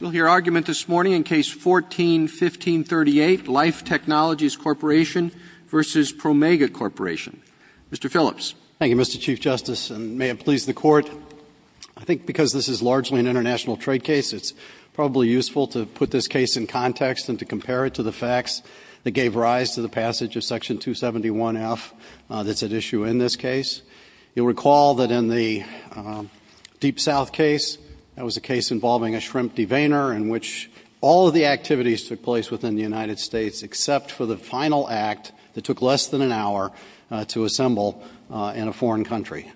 We'll hear argument this morning in Case 14-1538, Life Technologies Corp. v. Promega Corp. Mr. Phillips. Thank you, Mr. Chief Justice, and may it please the Court. I think because this is largely an international trade case, it's probably useful to put this case in context and to compare it to the facts that gave rise to the passage of Section 271F that's at issue in this case. You'll recall that in the Deep South case, that was a case involving a shrimp deveiner in which all of the activities took place within the United States except for the final act that took less than an hour to assemble in a foreign country.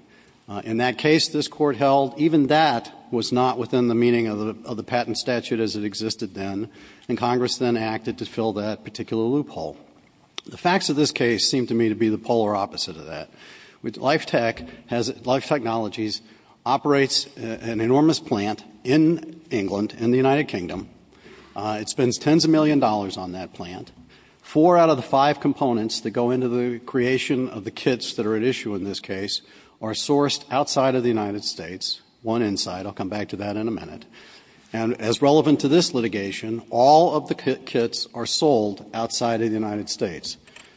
In that case, this Court held even that was not within the meaning of the patent statute as it existed then, and Congress then acted to fill that particular loophole. The facts of this case seem to me to be the polar opposite of that. Life Technologies operates an enormous plant in England in the United Kingdom. It spends tens of millions of dollars on that plant. Four out of the five components that go into the creation of the kits that are at issue in this case are sourced outside of the United States. One inside. I'll come back to that in a minute. And as relevant to this litigation, all of the kits are sold outside of the United States.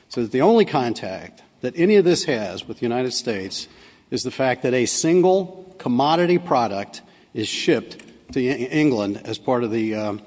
So that the only contact that any of this has with the United States is the fact that a single commodity product is shipped to England as part of the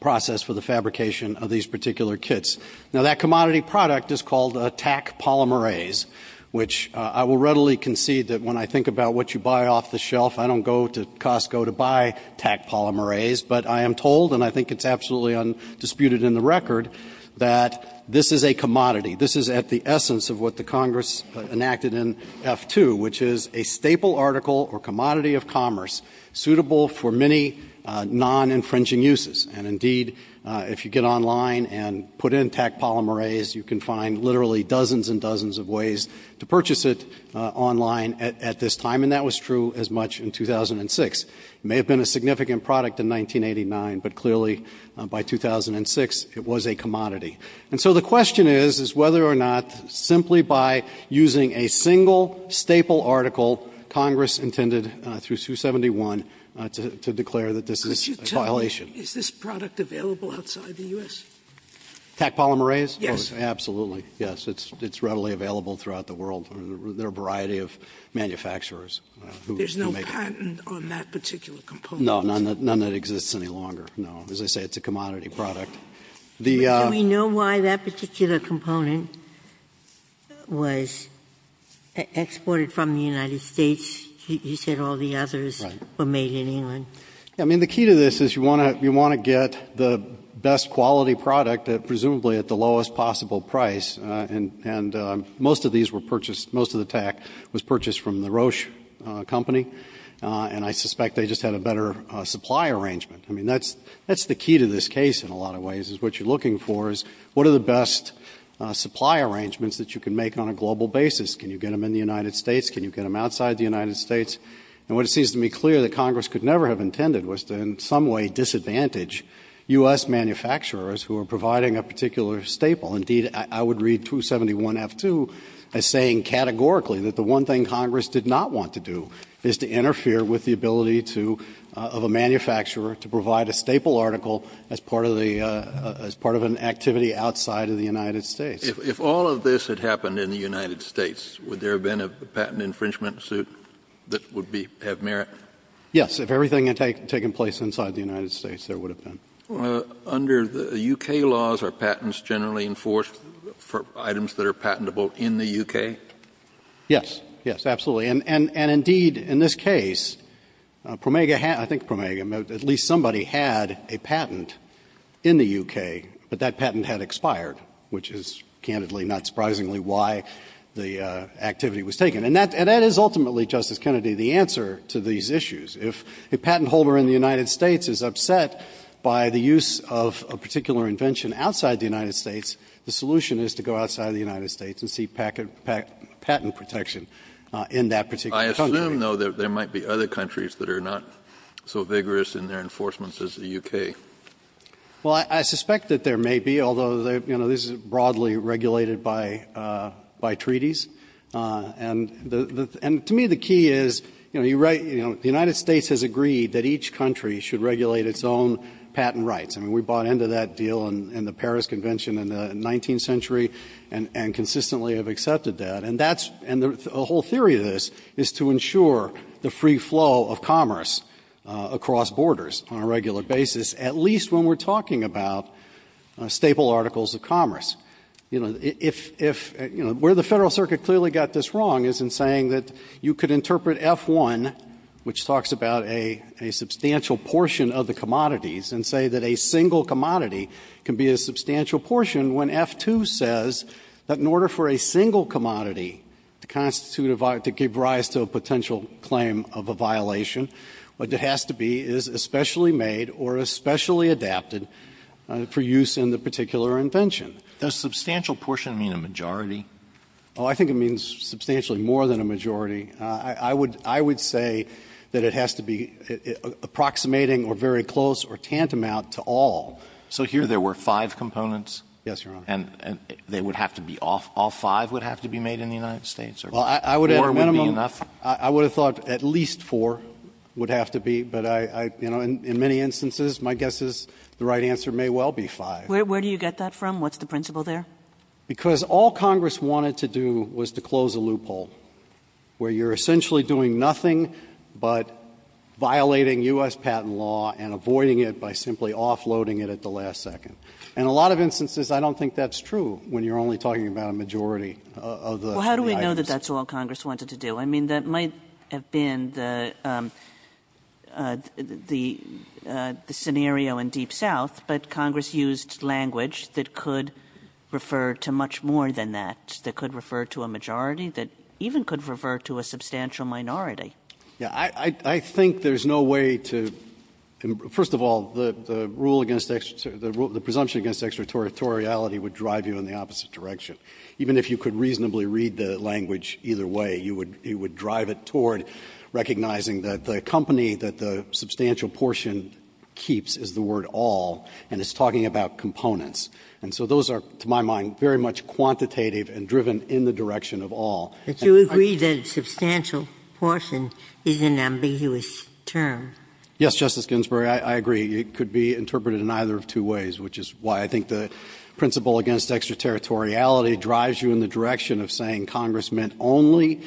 process for the fabrication of these particular kits. Now, that commodity product is called a TAC polymerase, which I will readily concede that when I think about what you buy off the shelf, I don't go to Costco to buy TAC polymerase. But I am told, and I think it's absolutely undisputed in the record, that this is a commodity. This is at the essence of what the Congress enacted in F-2, which is a staple article or commodity of commerce suitable for many non-infringing uses. And indeed, if you get online and put in TAC polymerase, you can find literally dozens and dozens of ways to purchase it online at this time. And that was true as much in 2006. It may have been a significant product in 1989, but clearly by 2006, it was a commodity. And so the question is, is whether or not simply by using a single staple article, Congress intended through 271 to declare that this is a violation. Sotomayor Could you tell me, is this product available outside the U.S.? Phillips TAC polymerase? Sotomayor Yes. Phillips Absolutely, yes. It's readily available throughout the world. There are a variety of manufacturers who make it. But it's not written on that particular component. Phillips No, none of that exists any longer. No. As I say, it's a commodity product. The ---- Ginsburg Do we know why that particular component was exported from the United States? You said all the others were made in England. Phillips I mean, the key to this is you want to get the best quality product, presumably at the lowest possible price, and most of these were purchased, most of the TAC was and I suspect they just had a better supply arrangement. I mean, that's the key to this case in a lot of ways is what you're looking for is what are the best supply arrangements that you can make on a global basis? Can you get them in the United States? Can you get them outside the United States? And what it seems to me clear that Congress could never have intended was to in some way disadvantage U.S. manufacturers who are providing a particular staple. Indeed, I would read 271F2 as saying categorically that the one thing Congress did not want to do is to interfere with the ability of a manufacturer to provide a staple article as part of an activity outside of the United States. Kennedy If all of this had happened in the United States, would there have been a patent infringement suit that would have merit? Phillips Yes. If everything had taken place inside the United States, there would have been. Kennedy Under the U.K. laws, are patents generally enforced for items that are patentable in the U.K.? Phillips Yes. Yes, absolutely. And indeed, in this case, Promega, I think Promega, at least somebody had a patent in the U.K., but that patent had expired, which is candidly, not surprisingly, why the activity was taken. And that is ultimately, Justice Kennedy, the answer to these issues. If a patent holder in the United States is upset by the use of a particular invention outside the United States, the solution is to go outside the United States and see patent protection in that particular country. Kennedy I assume, though, that there might be other countries that are not so vigorous in their enforcements as the U.K. Phillips Well, I suspect that there may be, although, you know, this is broadly regulated by treaties. And to me, the key is, you know, the United States has agreed that each country should regulate its own patent rights. I mean, we bought into that deal in the Paris Convention in the 19th century and consistently have accepted that. And that's, and the whole theory of this is to ensure the free flow of commerce across borders on a regular basis, at least when we're talking about staple articles of commerce. You know, if, you know, where the Federal Circuit clearly got this wrong is in saying that you could interpret F-1, which talks about a substantial portion of the commodities, and say that a single commodity can be a substantial portion, when F-2 says that in order for a single commodity to constitute a, to give rise to a potential claim of a violation, what it has to be is especially made or especially adapted for use in the particular invention. Roberts Does substantial portion mean a majority? Phillips Oh, I think it means substantially more than a majority. I would, I would say that it has to be approximating or very close or tantamount to all. Roberts So here there were five components? Phillips Yes, Your Honor. Roberts And they would have to be all, all five would have to be made in the United States or more would be enough? Phillips I would have thought at least four would have to be, but I, you know, in many instances my guess is the right answer may well be five. Kagan Where do you get that from? What's the principle there? Phillips Because all Congress wanted to do was to close a loophole where you're essentially doing nothing but violating U.S. patent law and avoiding it by simply offloading it at the last second. And a lot of instances I don't think that's true when you're only talking about a majority of the items. Kagan Well, how do we know that that's all Congress wanted to do? I mean, that might have been the, the, the scenario in Deep South, but Congress used language that could refer to much more than that, that could refer to a majority, that even could refer to a substantial minority. Phillips Yeah. I, I think there's no way to, first of all, the, the rule against, the presumption against extraterritoriality would drive you in the opposite direction. Even if you could reasonably read the language either way, you would, you would drive it toward recognizing that the company that the substantial portion keeps is the word all, and it's talking about components. And so those are, to my mind, very much quantitative and driven in the direction of all. Ginsburg But you agree that substantial portion is an ambiguous term. Phillips Yes, Justice Ginsburg, I, I agree. It could be interpreted in either of two ways, which is why I think the principle against extraterritoriality drives you in the direction of saying Congress meant only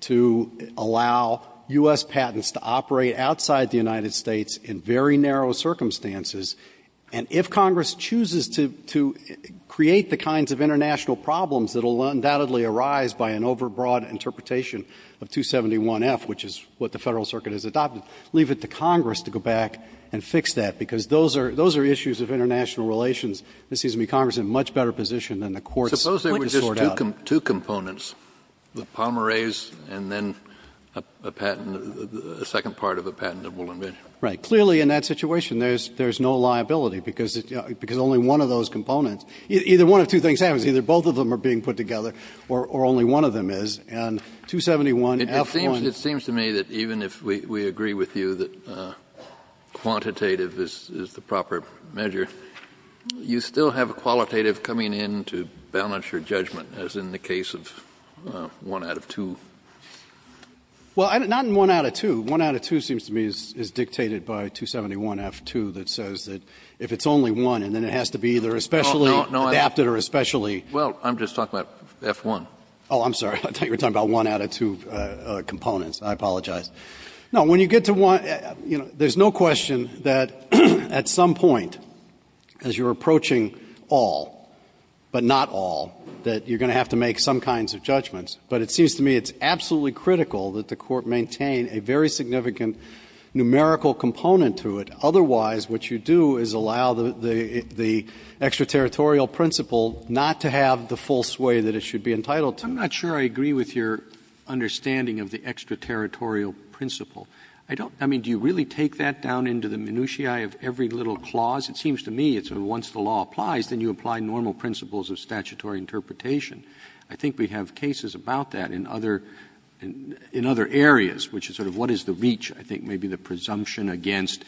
to allow U.S. patents to operate outside the United States in very narrow circumstances. And if Congress chooses to, to create the kinds of international problems that will undoubtedly arise by an overbroad interpretation of 271F, which is what the Federal Circuit has adopted, leave it to Congress to go back and fix that. Because those are, those are issues of international relations. This seems to me Congress is in a much better position than the Court's to sort out. Kennedy Suppose there were just two components, the polymerase and then a patent, a second part of a patent that we'll invent. Phillips Right. Clearly in that situation there's, there's no liability because, because only one of those components, either one of two things happens, either both of them are being put together or, or only one of them is. And 271F1 Kennedy It seems, it seems to me that even if we, we agree with you that quantitative is, is the proper measure, you still have qualitative coming in to balance your judgment, as in the case of one out of two. Phillips Well, not in one out of two. One out of two seems to me is, is dictated by 271F2 that says that if it's only one and then it has to be either especially adapted or especially Kennedy Well, I'm just talking about F1. Phillips Oh, I'm sorry. I thought you were talking about one out of two components. I apologize. No, when you get to one, you know, there's no question that at some point as you're approaching all, but not all, that you're going to have to make some kinds of judgments. But it seems to me it's absolutely critical that the Court maintain a very significant numerical component to it. Otherwise, what you do is allow the, the, the extraterritorial principle not to have the full sway that it should be entitled to. Roberts I'm not sure I agree with your understanding of the extraterritorial principle. I don't, I mean, do you really take that down into the minutiae of every little clause? It seems to me it's when once the law applies, then you apply normal principles of statutory interpretation. I think we have cases about that in other, in other areas, which is sort of what is the reach? I think maybe the presumption against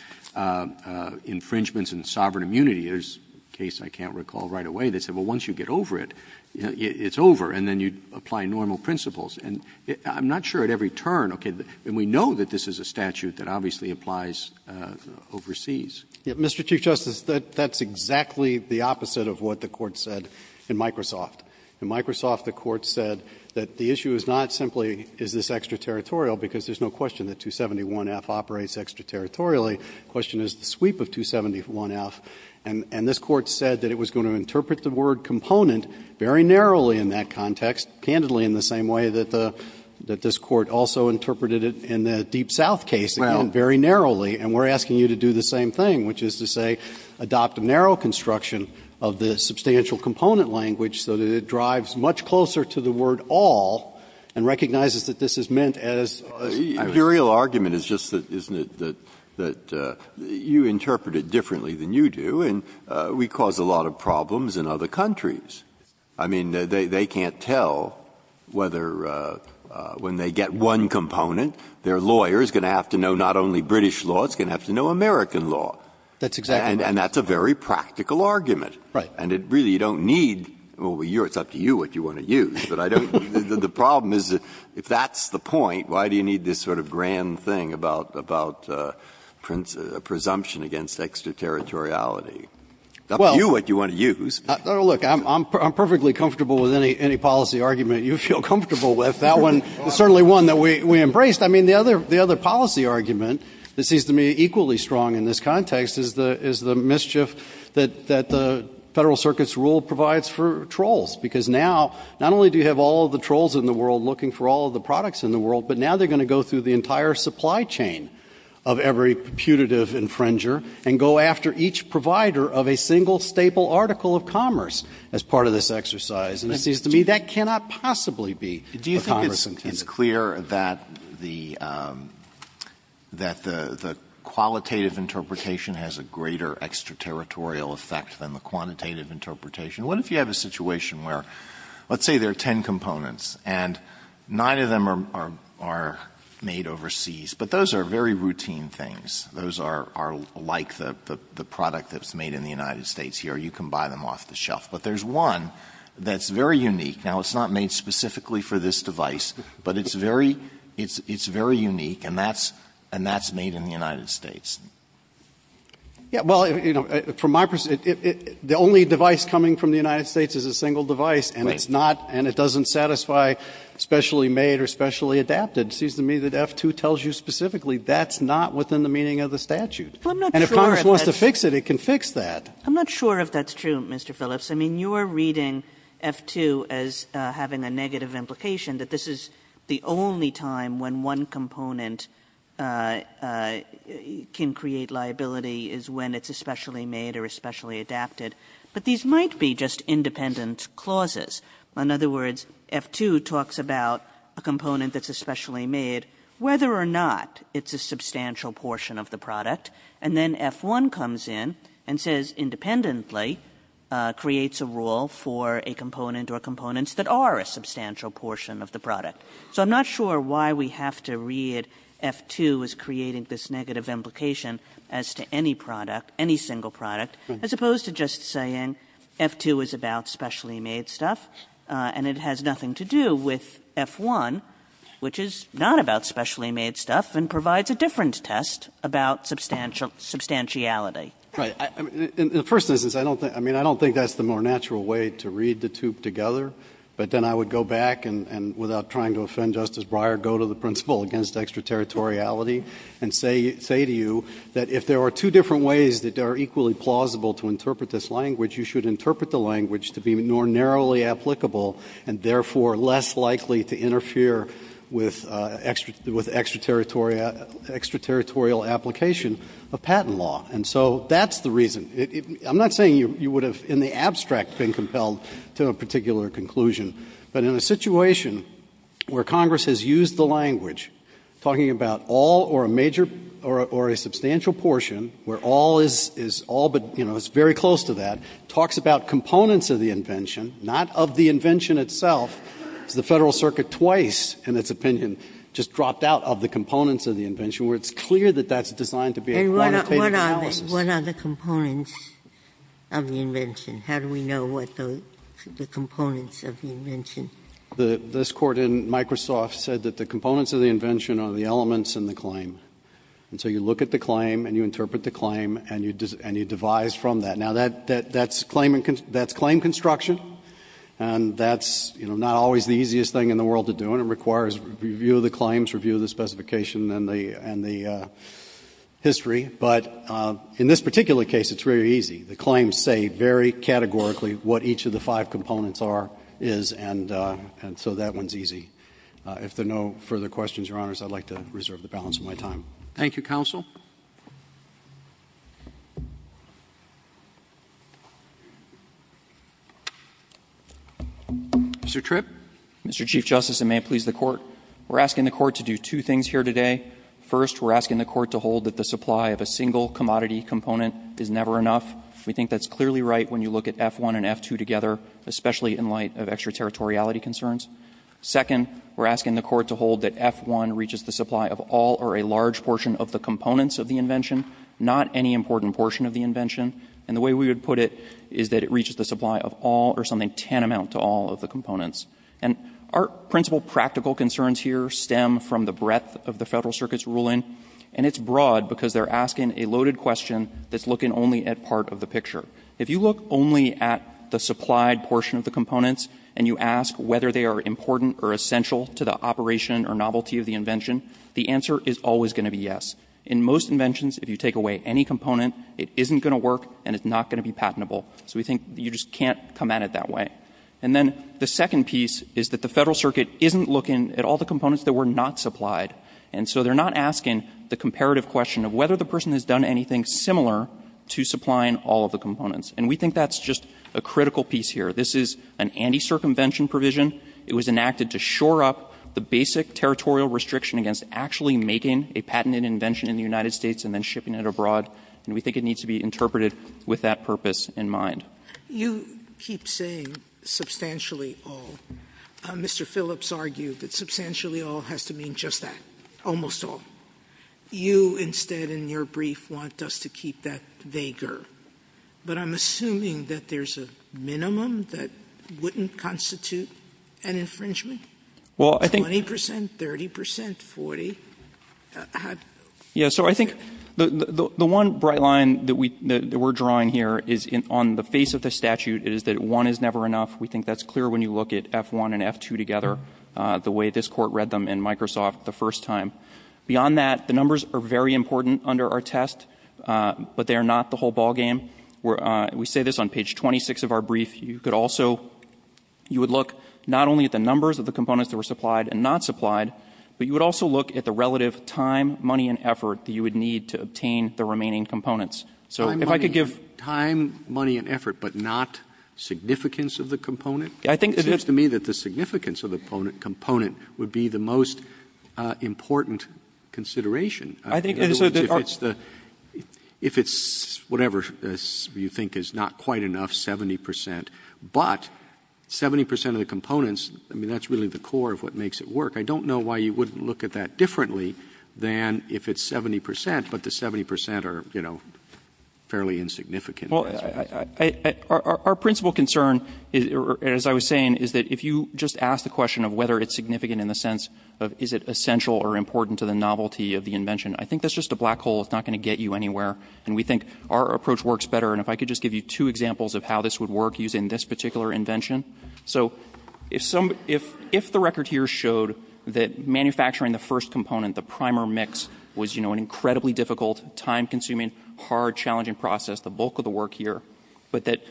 infringements and sovereign immunity. There's a case I can't recall right away that said, well, once you get over it, it's over, and then you apply normal principles. And I'm not sure at every turn, okay, and we know that this is a statute that obviously applies overseas. Phillips Mr. Chief Justice, that's exactly the opposite of what the Court said in Microsoft. In Microsoft, the Court said that the issue is not simply is this extraterritorial because there's no question that 271F operates extraterritorially. The question is the sweep of 271F. And this Court said that it was going to interpret the word component very narrowly in that context, candidly in the same way that this Court also interpreted it in the Deep South case, again, very narrowly. And we're asking you to do the same thing, which is to say adopt a narrow construction of the substantial component language so that it drives much closer to the word all and recognizes that this is meant as a Breyer Your real argument is just that, isn't it, that you interpret it differently than you do, and we cause a lot of problems in other countries. I mean, they can't tell whether when they get one component, their lawyer is going to have to know not only British law, it's going to have to know American law. That's exactly right. It's a practical argument. Right. And it really, you don't need, well, it's up to you what you want to use. But I don't, the problem is if that's the point, why do you need this sort of grand thing about presumption against extraterritoriality? Well It's up to you what you want to use. Look, I'm perfectly comfortable with any policy argument you feel comfortable with. That one is certainly one that we embraced. I mean, the other policy argument that seems to me equally strong in this context is the mischief that the Federal Circuit's rule provides for trolls. Because now, not only do you have all of the trolls in the world looking for all of the products in the world, but now they're going to go through the entire supply chain of every putative infringer and go after each provider of a single staple article of commerce as part of this exercise. And it seems to me that cannot possibly be a commerce incentive. It's clear that the qualitative interpretation has a greater extraterritorial effect than the quantitative interpretation. What if you have a situation where, let's say there are ten components, and nine of them are made overseas. But those are very routine things. Those are like the product that's made in the United States here. You can buy them off the shelf. But there's one that's very unique. Now, it's not made specifically for this device. But it's very unique. And that's made in the United States. Phillips. Well, from my perspective, the only device coming from the United States is a single device, and it's not, and it doesn't satisfy specially made or specially adapted. It seems to me that F-2 tells you specifically that's not within the meaning of the statute. And if commerce wants to fix it, it can fix that. I'm not sure if that's true, Mr. Phillips. I mean, you're reading F-2 as having a negative implication that this is the only time when one component can create liability is when it's especially made or especially adapted. But these might be just independent clauses. In other words, F-2 talks about a component that's especially made, whether or not it's a substantial portion of the product. And then F-1 comes in and says independently creates a rule for a component or components that are a substantial portion of the product. So I'm not sure why we have to read F-2 as creating this negative implication as to any product, any single product, as opposed to just saying F-2 is about specially made stuff and it has nothing to do with F-1, which is not about specially made stuff and provides a different test about substantiality. Right. In the first instance, I don't think that's the more natural way to read the two together. But then I would go back and, without trying to offend Justice Breyer, go to the principle against extraterritoriality and say to you that if there are two different ways that are equally plausible to interpret this language, you should interpret the language to be more narrowly applicable and, therefore, less likely to interfere with extraterritorial application of patent law. And so that's the reason. I'm not saying you would have, in the abstract, been compelled to a particular conclusion. But in a situation where Congress has used the language, talking about all or a substantial portion where all is all but, you know, it's very close to that, talks about components of the invention, not of the invention itself. The Federal Circuit twice, in its opinion, just dropped out of the components of the invention, where it's clear that that's designed to be a quantitative analysis. Ginsburg. And what are the components of the invention? How do we know what the components of the invention? This Court in Microsoft said that the components of the invention are the elements in the claim. And so you look at the claim and you interpret the claim and you devise from that. Now, that's claim construction. And that's, you know, not always the easiest thing in the world to do. And it requires review of the claims, review of the specification and the history. But in this particular case, it's very easy. The claims say very categorically what each of the five components are, is, and so that one's easy. If there are no further questions, Your Honors, I'd like to reserve the balance of my time. Thank you, counsel. Mr. Tripp. Mr. Chief Justice, and may it please the Court, we're asking the Court to do two things here today. First, we're asking the Court to hold that the supply of a single commodity component is never enough. We think that's clearly right when you look at F-1 and F-2 together, especially in light of extraterritoriality concerns. Second, we're asking the Court to hold that F-1 reaches the supply of all or a large portion of the components of the invention, not any important portion of the invention. And the way we would put it is that it reaches the supply of all or something tantamount to all of the components. And our principal practical concerns here stem from the breadth of the Federal Circuit's ruling, and it's broad because they're asking a loaded question that's looking only at part of the picture. If you look only at the supplied portion of the components and you ask whether they are important or essential to the operation or novelty of the invention, the answer is always going to be yes. In most inventions, if you take away any component, it isn't going to work and it's not going to be patentable. So we think you just can't come at it that way. And then the second piece is that the Federal Circuit isn't looking at all the components that were not supplied. And so they're not asking the comparative question of whether the person has done anything similar to supplying all of the components. And we think that's just a critical piece here. This is an anti-circumvention provision. It was enacted to shore up the basic territorial restriction against actually making a patented invention in the United States and then shipping it abroad. And we think it needs to be interpreted with that purpose in mind. Sotomayor, you keep saying substantially all. Mr. Phillips argued that substantially all has to mean just that, almost all. You instead in your brief want us to keep that vaguer. But I'm assuming that there's a minimum that wouldn't constitute an infringement? 20 percent? 30 percent? 40? How? Yeah. So I think the one bright line that we're drawing here is on the face of the statute is that one is never enough. We think that's clear when you look at F-1 and F-2 together, the way this Court read them in Microsoft the first time. Beyond that, the numbers are very important under our test. But they are not the whole ballgame. We say this on page 26 of our brief. You could also you would look not only at the numbers of the components that were supplied and not supplied, but you would also look at the relative time, money, and effort that you would need to obtain the remaining components. So if I could give time, money, and effort, but not significance of the component? It seems to me that the significance of the component would be the most important consideration. In other words, if it's whatever you think is not quite enough, 70 percent, but 70 percent of the components, I mean, that's really the core of what makes it work. I don't know why you wouldn't look at that differently than if it's 70 percent, but the 70 percent are, you know, fairly insignificant. Well, our principal concern, as I was saying, is that if you just ask the question of whether it's significant in the sense of is it essential or important to the invention, I think that's just a black hole. It's not going to get you anywhere. And we think our approach works better. And if I could just give you two examples of how this would work using this particular invention. So if the record here showed that manufacturing the first component, the primer mix, was, you know, an incredibly difficult, time-consuming, hard, challenging process, the bulk of the work here, but that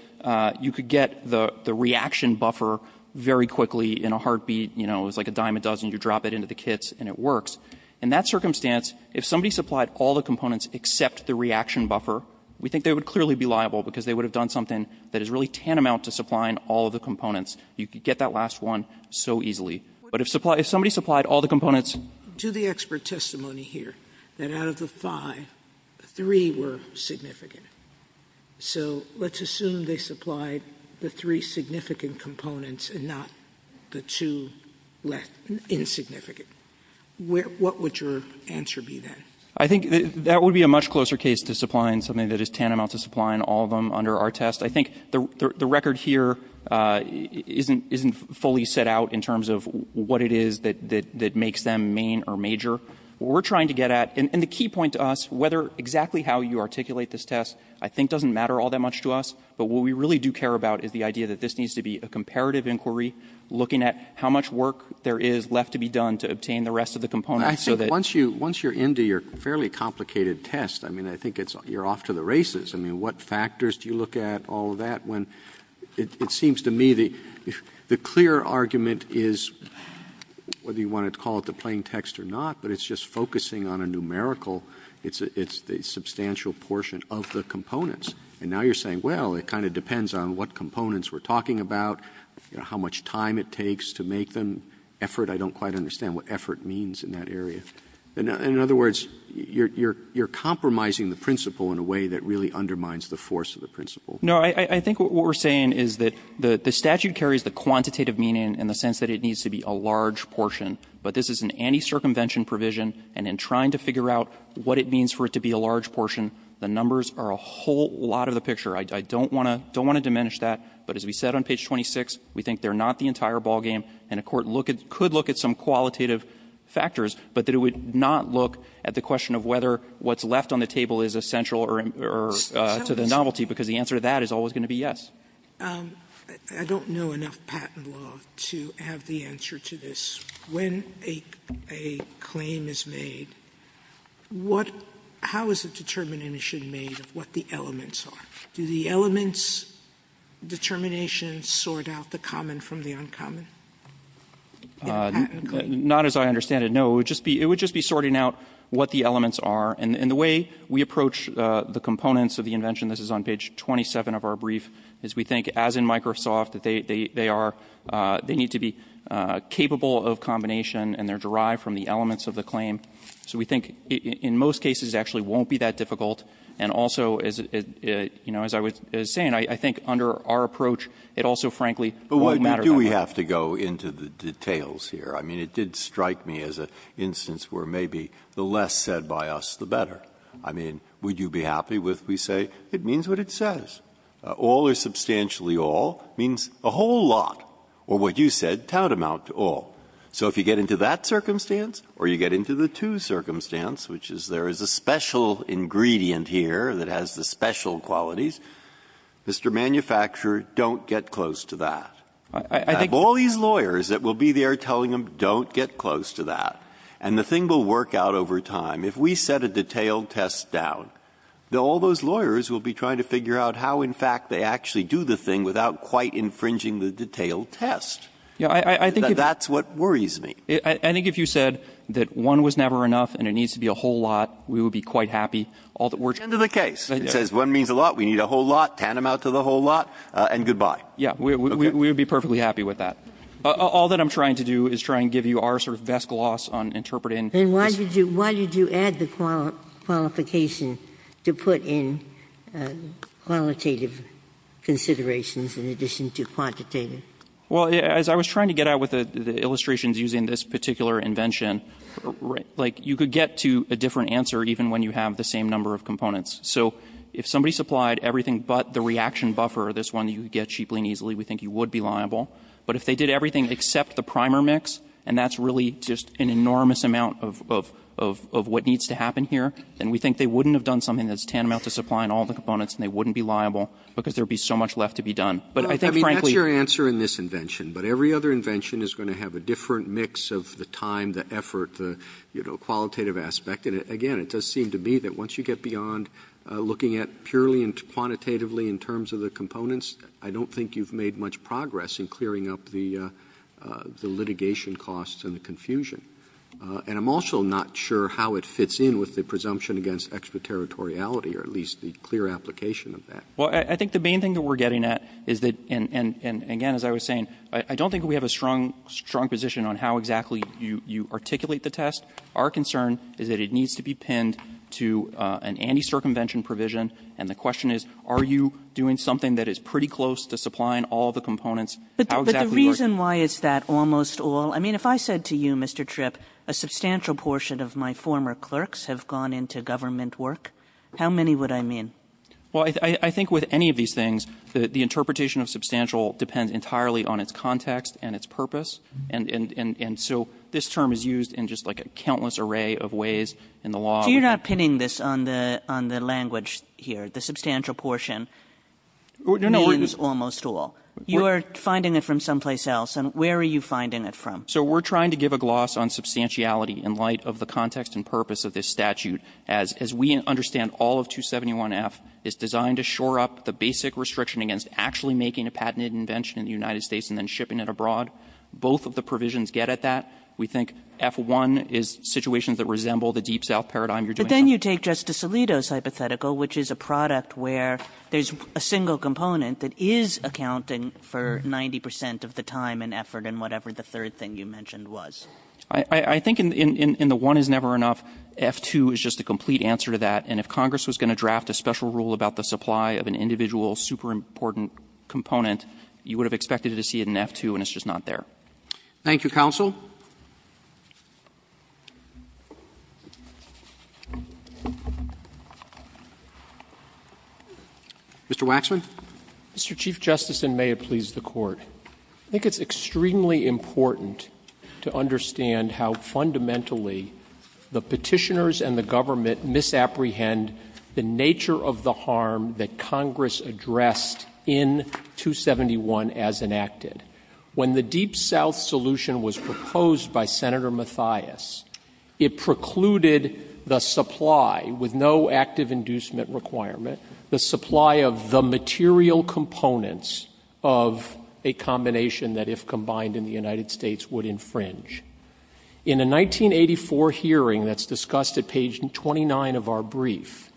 you could get the reaction buffer very quickly in a heartbeat, you know, it was like a dime a dozen, you drop it into the kits and it works. In that circumstance, if somebody supplied all the components except the reaction buffer, we think they would clearly be liable because they would have done something that is really tantamount to supplying all of the components. You could get that last one so easily. But if somebody supplied all the components. Sotomayor, to the expert testimony here, that out of the five, three were significant. So let's assume they supplied the three significant components and not the two insignificant. What would your answer be then? I think that would be a much closer case to supplying something that is tantamount to supplying all of them under our test. I think the record here isn't fully set out in terms of what it is that makes them main or major. What we're trying to get at, and the key point to us, whether exactly how you articulate this test, I think doesn't matter all that much to us. But what we really do care about is the idea that this needs to be a comparative inquiry looking at how much work there is left to be done to obtain the rest of the components so that. Once you're into your fairly complicated test, I mean, I think you're off to the races. I mean, what factors do you look at, all of that, when it seems to me the clear argument is whether you want to call it the plain text or not, but it's just focusing on a numerical. It's the substantial portion of the components. And now you're saying, well, it kind of depends on what components we're talking about, you know, how much time it takes to make them, effort. I don't quite understand what effort means in that area. In other words, you're compromising the principle in a way that really undermines the force of the principle. No. I think what we're saying is that the statute carries the quantitative meaning in the sense that it needs to be a large portion, but this is an anti-circumvention provision, and in trying to figure out what it means for it to be a large portion, the numbers are a whole lot of the picture. I don't want to diminish that. But as we said on page 26, we think they're not the entire ballgame, and a court could look at some qualitative factors, but that it would not look at the question of whether what's left on the table is essential or to the novelty, because the answer to that is always going to be yes. Sotomayor, I don't know enough patent law to have the answer to this. When a claim is made, what – how is a determination made of what the elements are? Do the elements' determinations sort out the common from the uncommon in a patent claim? Not as I understand it, no. It would just be sorting out what the elements are, and the way we approach the components of the invention – this is on page 27 of our brief – is we think, as in Microsoft, that they are – they need to be capable of combination, and they're derived from the elements of the claim. So we think in most cases it actually won't be that difficult, and also, as I was saying, I think under our approach, it also, frankly, won't matter that much. But why do we have to go into the details here? I mean, it did strike me as an instance where maybe the less said by us, the better. I mean, would you be happy if we say it means what it says? All or substantially all means a whole lot, or what you said, tantamount to all. So if you get into that circumstance, or you get into the two circumstance, which is there is a special ingredient here that has the special qualities, Mr. Manufacturer, don't get close to that. I think all these lawyers that will be there telling them, don't get close to that, and the thing will work out over time. If we set a detailed test down, all those lawyers will be trying to figure out how, in fact, they actually do the thing without quite infringing the detailed test. That's what worries me. I think if you said that one was never enough and it needs to be a whole lot, we would be quite happy. At the end of the case, it says one means a lot, we need a whole lot, tantamount to the whole lot, and good-bye. Yes. We would be perfectly happy with that. All that I'm trying to do is try and give you our sort of best gloss on interpreting this. And why did you add the qualification to put in qualitative considerations in addition to quantitative? Well, as I was trying to get out with the illustrations using this particular invention, like, you could get to a different answer even when you have the same number of components. So if somebody supplied everything but the reaction buffer, this one you get cheaply and easily, we think you would be liable. But if they did everything except the primer mix, and that's really just an enormous amount of what needs to happen here, then we think they wouldn't have done something that's tantamount to supplying all the components, and they wouldn't be liable because there would be so much left to be done. I mean, that's your answer in this invention. But every other invention is going to have a different mix of the time, the effort, the qualitative aspect. And again, it does seem to me that once you get beyond looking at purely and quantitatively in terms of the components, I don't think you've made much progress in clearing up the litigation costs and the confusion. And I'm also not sure how it fits in with the presumption against extraterritoriality, or at least the clear application of that. Well, I think the main thing that we're getting at is that, and again, as I was saying, I don't think we have a strong position on how exactly you articulate the test. Our concern is that it needs to be pinned to an anti-circumvention provision. And the question is, are you doing something that is pretty close to supplying all the components? How exactly are you- But the reason why is that almost all? I mean, if I said to you, Mr. Tripp, a substantial portion of my former clerks have gone into government work, how many would I mean? Well, I think with any of these things, the interpretation of substantial depends entirely on its context and its purpose. And so, this term is used in just like a countless array of ways in the law. So you're not pinning this on the language here, the substantial portion means almost all. You are finding it from someplace else, and where are you finding it from? So we're trying to give a gloss on substantiality in light of the context and purpose of this statute. As we understand, all of 271F is designed to shore up the basic restriction against actually making a patented invention in the United States and then shipping it abroad. Both of the provisions get at that. We think F-1 is situations that resemble the Deep South paradigm you're doing. But then you take Justice Alito's hypothetical, which is a product where there's a single component that is accounting for 90% of the time and effort and whatever the third thing you mentioned was. I think in the one is never enough, F-2 is just a complete answer to that. And if Congress was going to draft a special rule about the supply of an individual super important component, you would have expected to see it in F-2 and it's just not there. Thank you, counsel. Mr. Waxman. Mr. Chief Justice, and may it please the court. I think it's extremely important to understand how fundamentally the petitioners and the government misapprehend the nature of the harm that Congress addressed in 271 as enacted. When the Deep South solution was proposed by Senator Mathias, it precluded the supply with no active inducement requirement, the supply of the material components of a combination that if combined in the United States would infringe. In a 1984 hearing that's discussed at page 29 of our brief,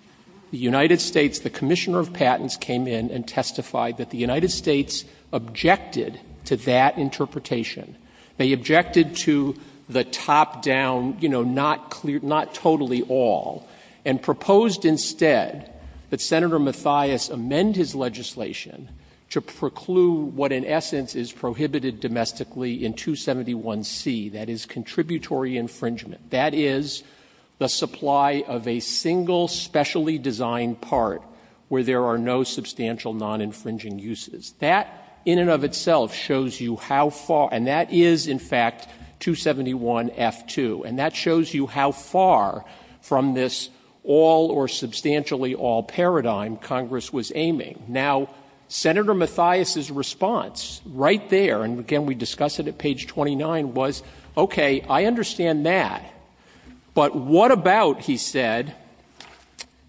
the United States, the Commissioner of Patents came in and testified that the United States objected to that interpretation. They objected to the top down, not totally all. And proposed instead that Senator Mathias amend his legislation to preclude what in essence is prohibited domestically in 271C, that is contributory infringement. That is the supply of a single specially designed part where there are no substantial non-infringing uses. That in and of itself shows you how far, and that is in fact 271F2. And that shows you how far from this all or substantially all paradigm Congress was aiming. Now, Senator Mathias' response right there, and again we discuss it at page 29, was okay, I understand that. But what about, he said,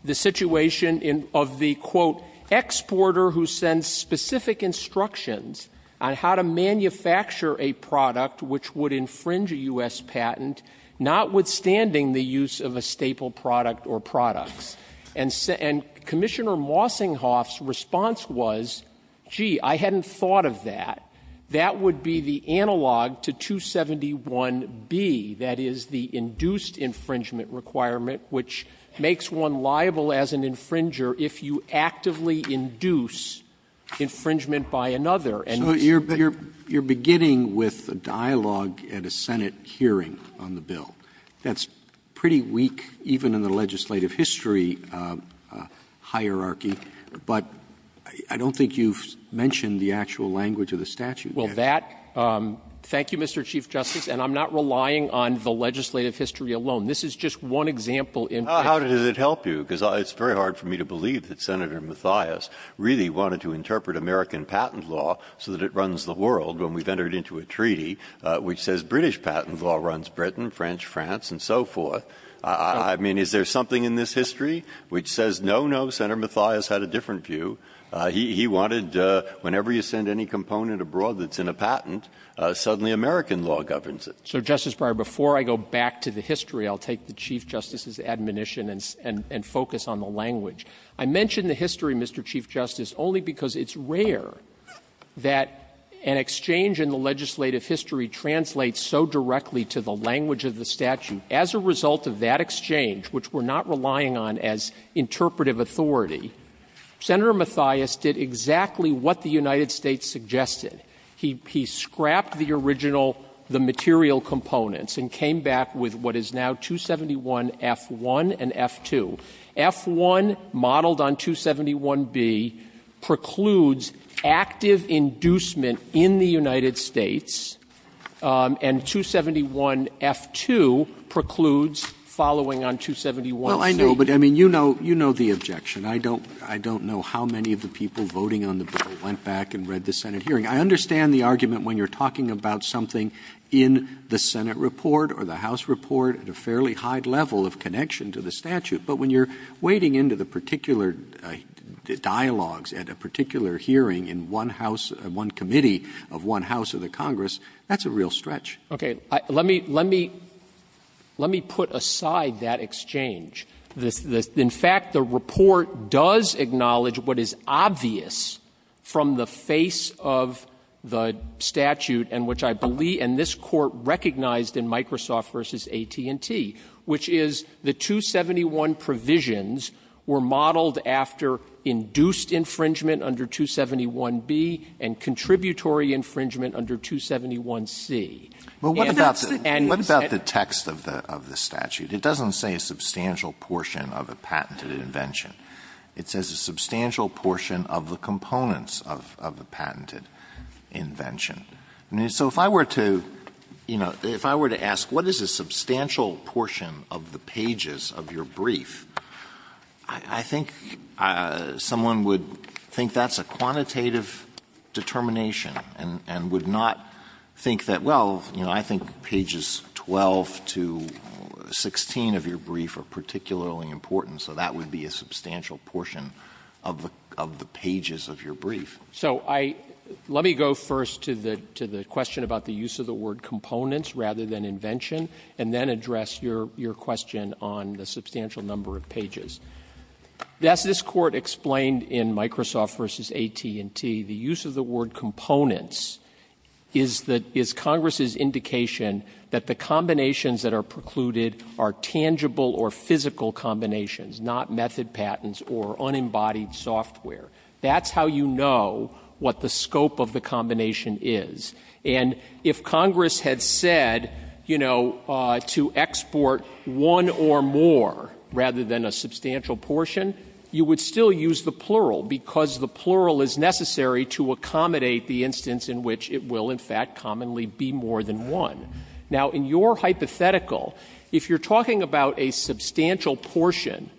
the situation of the, quote, exporter who sends specific instructions on how to manufacture a product which would infringe a US patent, notwithstanding the use of a staple product or products. And Commissioner Mossinghoff's response was, gee, I hadn't thought of that. That would be the analog to 271B, that is the induced infringement requirement, which makes one liable as an infringer if you actively induce infringement by another. And- So you're beginning with a dialogue at a Senate hearing on the bill. That's pretty weak, even in the legislative history hierarchy. But I don't think you've mentioned the actual language of the statute. Well, that, thank you, Mr. Chief Justice. And I'm not relying on the legislative history alone. This is just one example in- How does it help you? Because it's very hard for me to believe that Senator Mathias really wanted to interpret American patent law so that it runs the world when we've entered into a treaty which says British patent law runs Britain, French, France, and so forth. I mean, is there something in this history which says, no, no, Senator Mathias had a different view. He wanted, whenever you send any component abroad that's in a patent, suddenly American law governs it. So, Justice Breyer, before I go back to the history, I'll take the Chief Justice's admonition and focus on the language. I mention the history, Mr. Chief Justice, only because it's rare that an exchange in the legislative history translates so directly to the language of the statute. As a result of that exchange, which we're not relying on as interpretive authority, Senator Mathias did exactly what the United States suggested. He scrapped the original, the material components, and came back with what is now 271F1 and F2. F1 modeled on 271B precludes active inducement in the United States, and 271F2 precludes following on 271C. Roberts, I know, but I mean, you know the objection. I don't know how many of the people voting on the bill went back and read the Senate hearing. I understand the argument when you're talking about something in the Senate report or the House report at a fairly high level of connection to the statute. But when you're wading into the particular dialogues at a particular hearing in one House, one committee of one House or the Congress, that's a real stretch. Okay. Let me put aside that exchange. In fact, the report does acknowledge what is obvious from the face of the statute and which I believe, and this Court recognized in Microsoft v. AT&T, which is the 271 provisions were modeled after induced infringement under 271B and contributory infringement under 271C. And that's the end. Alito, what about the text of the statute? It doesn't say a substantial portion of a patented invention. It says a substantial portion of the components of a patented invention. So if I were to, you know, if I were to ask what is a substantial portion of the pages of your brief, I think someone would think that's a quantitative determination and would not think that, well, you know, I think pages 12 to 16 of your brief are particularly important, so that would be a substantial portion of the pages of your brief. So I let me go first to the question about the use of the word components rather than invention, and then address your question on the substantial number of pages. This Court explained in Microsoft v. AT&T the use of the word components is that the Congress' indication that the combinations that are precluded are tangible or physical combinations, not method patents or unembodied software. That's how you know what the scope of the combination is. And if Congress had said, you know, to export one or more rather than a substantial portion, you would still use the plural, because the plural is necessary to accommodate the instance in which it will, in fact, commonly be more than one. Now, in your hypothetical, if you're talking about a substantial portion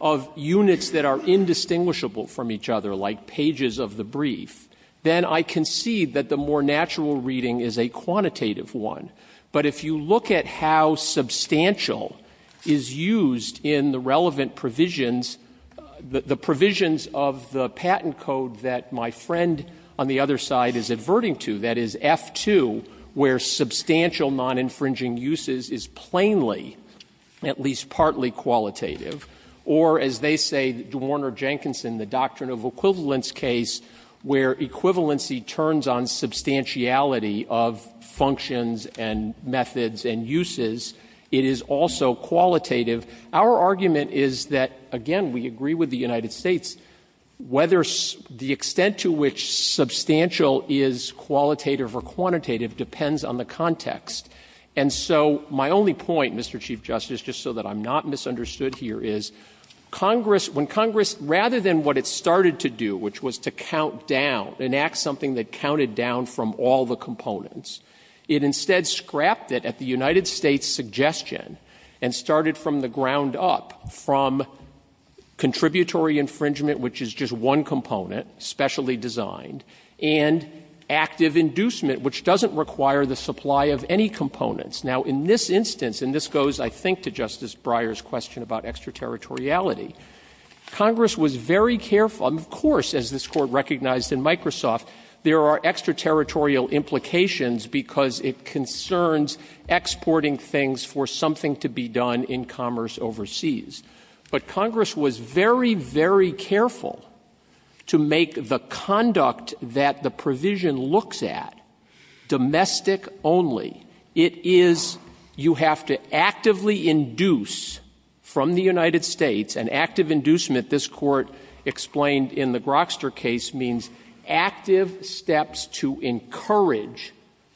of units that are indistinguishable from each other, like pages of the brief, then I concede that the more natural reading is a quantitative one. But if you look at how substantial is used in the relevant provisions, the provisions of the patent code that my friend on the other side is adverting to, that is F-2, where substantial non-infringing uses is plainly, at least partly qualitative, or as they say, Warner-Jenkinson, the doctrine of equivalence case, where equivalency turns on substantiality of functions and methods and uses, it is also qualitative. Our argument is that, again, we agree with the United States, whether the extent to which substantial is qualitative or quantitative depends on the context. And so my only point, Mr. Chief Justice, just so that I'm not misunderstood here, is Congress, when Congress, rather than what it started to do, which was to count down, enact something that counted down from all the components, it instead scrapped it at the United States' suggestion and started from the ground up, from contributory infringement, which is just one component, specially designed, and active inducement, which doesn't require the supply of any components. Now, in this instance, and this goes, I think, to Justice Breyer's question about extraterritoriality, Congress was very careful. And, of course, as this Court recognized in Microsoft, there are extraterritorial implications because it concerns exporting things for something to be done in commerce overseas. But Congress was very, very careful to make the conduct that the provision looks at domestic only. It is, you have to actively induce from the United States, and active inducement, as this Court explained in the Grokster case, means active steps to encourage,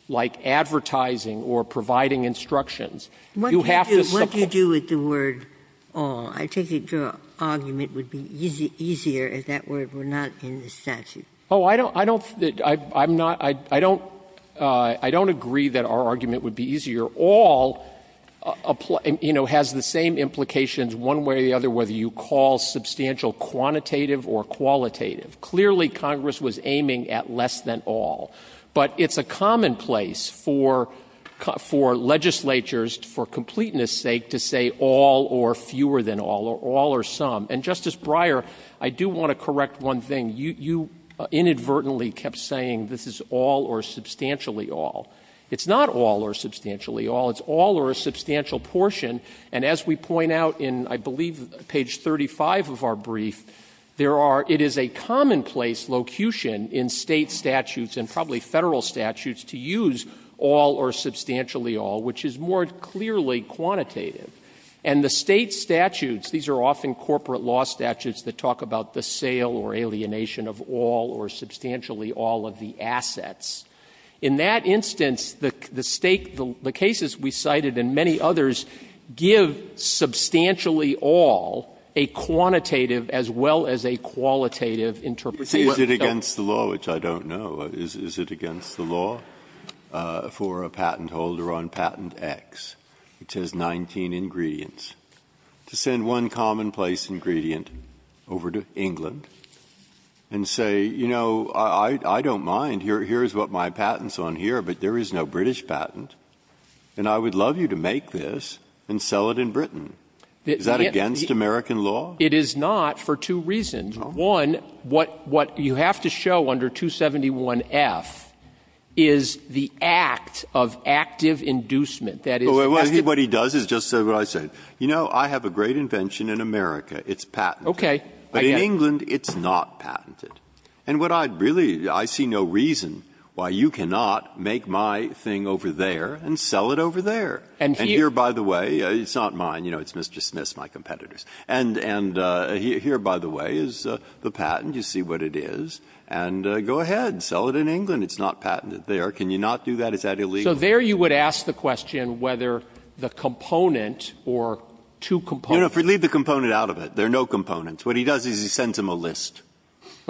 like advertising or providing instructions. You have to support this. Ginsburg. What do you do with the word all? I take it your argument would be easier if that word were not in the statute. Oh, I don't think that I'm not — I don't agree that our argument would be easier. All, you know, has the same implications, one way or the other, whether you call it less substantial, quantitative, or qualitative. Clearly, Congress was aiming at less than all. But it's a commonplace for legislatures, for completeness' sake, to say all or fewer than all, or all or some. And, Justice Breyer, I do want to correct one thing. You inadvertently kept saying this is all or substantially all. It's not all or substantially all. It's all or a substantial portion. And as we point out in, I believe, page 35 of our brief, there are — it is a commonplace locution in State statutes and probably Federal statutes to use all or substantially all, which is more clearly quantitative. And the State statutes, these are often corporate law statutes that talk about the sale or alienation of all or substantially all of the assets. In that instance, the State — the cases we cited and many others give substantially all a quantitative as well as a qualitative interpretation. Breyer's Is it against the law, which I don't know, is it against the law for a patent holder on Patent X, which has 19 ingredients, to send one commonplace ingredient over to England and say, you know, I don't mind, here's what my patent's on here, but there is no British patent, and I would love you to make this and sell it in Britain? Is that against American law? It is not for two reasons. One, what you have to show under 271F is the act of active inducement. That is— Well, what he does is just what I said. You know, I have a great invention in America. It's patent. Okay. But in England, it's not patented. And what I really — I see no reason why you cannot make my thing over there and sell it over there. And here, by the way — it's not mine, you know, it's Mr. Smith's, my competitor's. And here, by the way, is the patent. You see what it is. And go ahead, sell it in England. It's not patented there. Can you not do that? Is that illegal? So there you would ask the question whether the component or two components You know, if we leave the component out of it, there are no components. What he does is he sends them a list.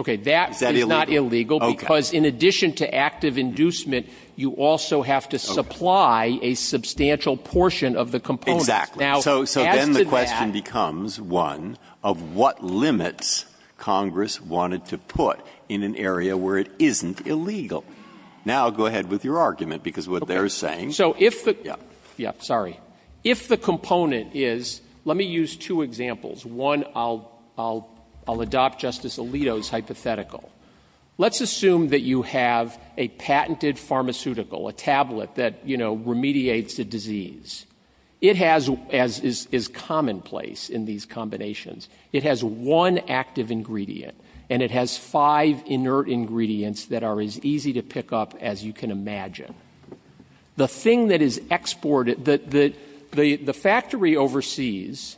Is that illegal? Okay. That is not illegal because in addition to active inducement, you also have to supply a substantial portion of the components. Exactly. Now, as to that— So then the question becomes, one, of what limits Congress wanted to put in an area where it isn't illegal. Now go ahead with your argument, because what they're saying— Okay. So if the— Yeah. Yeah. Sorry. If the component is—let me use two examples. One, I'll adopt Justice Alito's hypothetical. Let's assume that you have a patented pharmaceutical, a tablet that, you know, remediates a disease. It has, as is commonplace in these combinations, it has one active ingredient and it has five inert ingredients that are as easy to pick up as you can imagine. The thing that is exported—the factory overseas,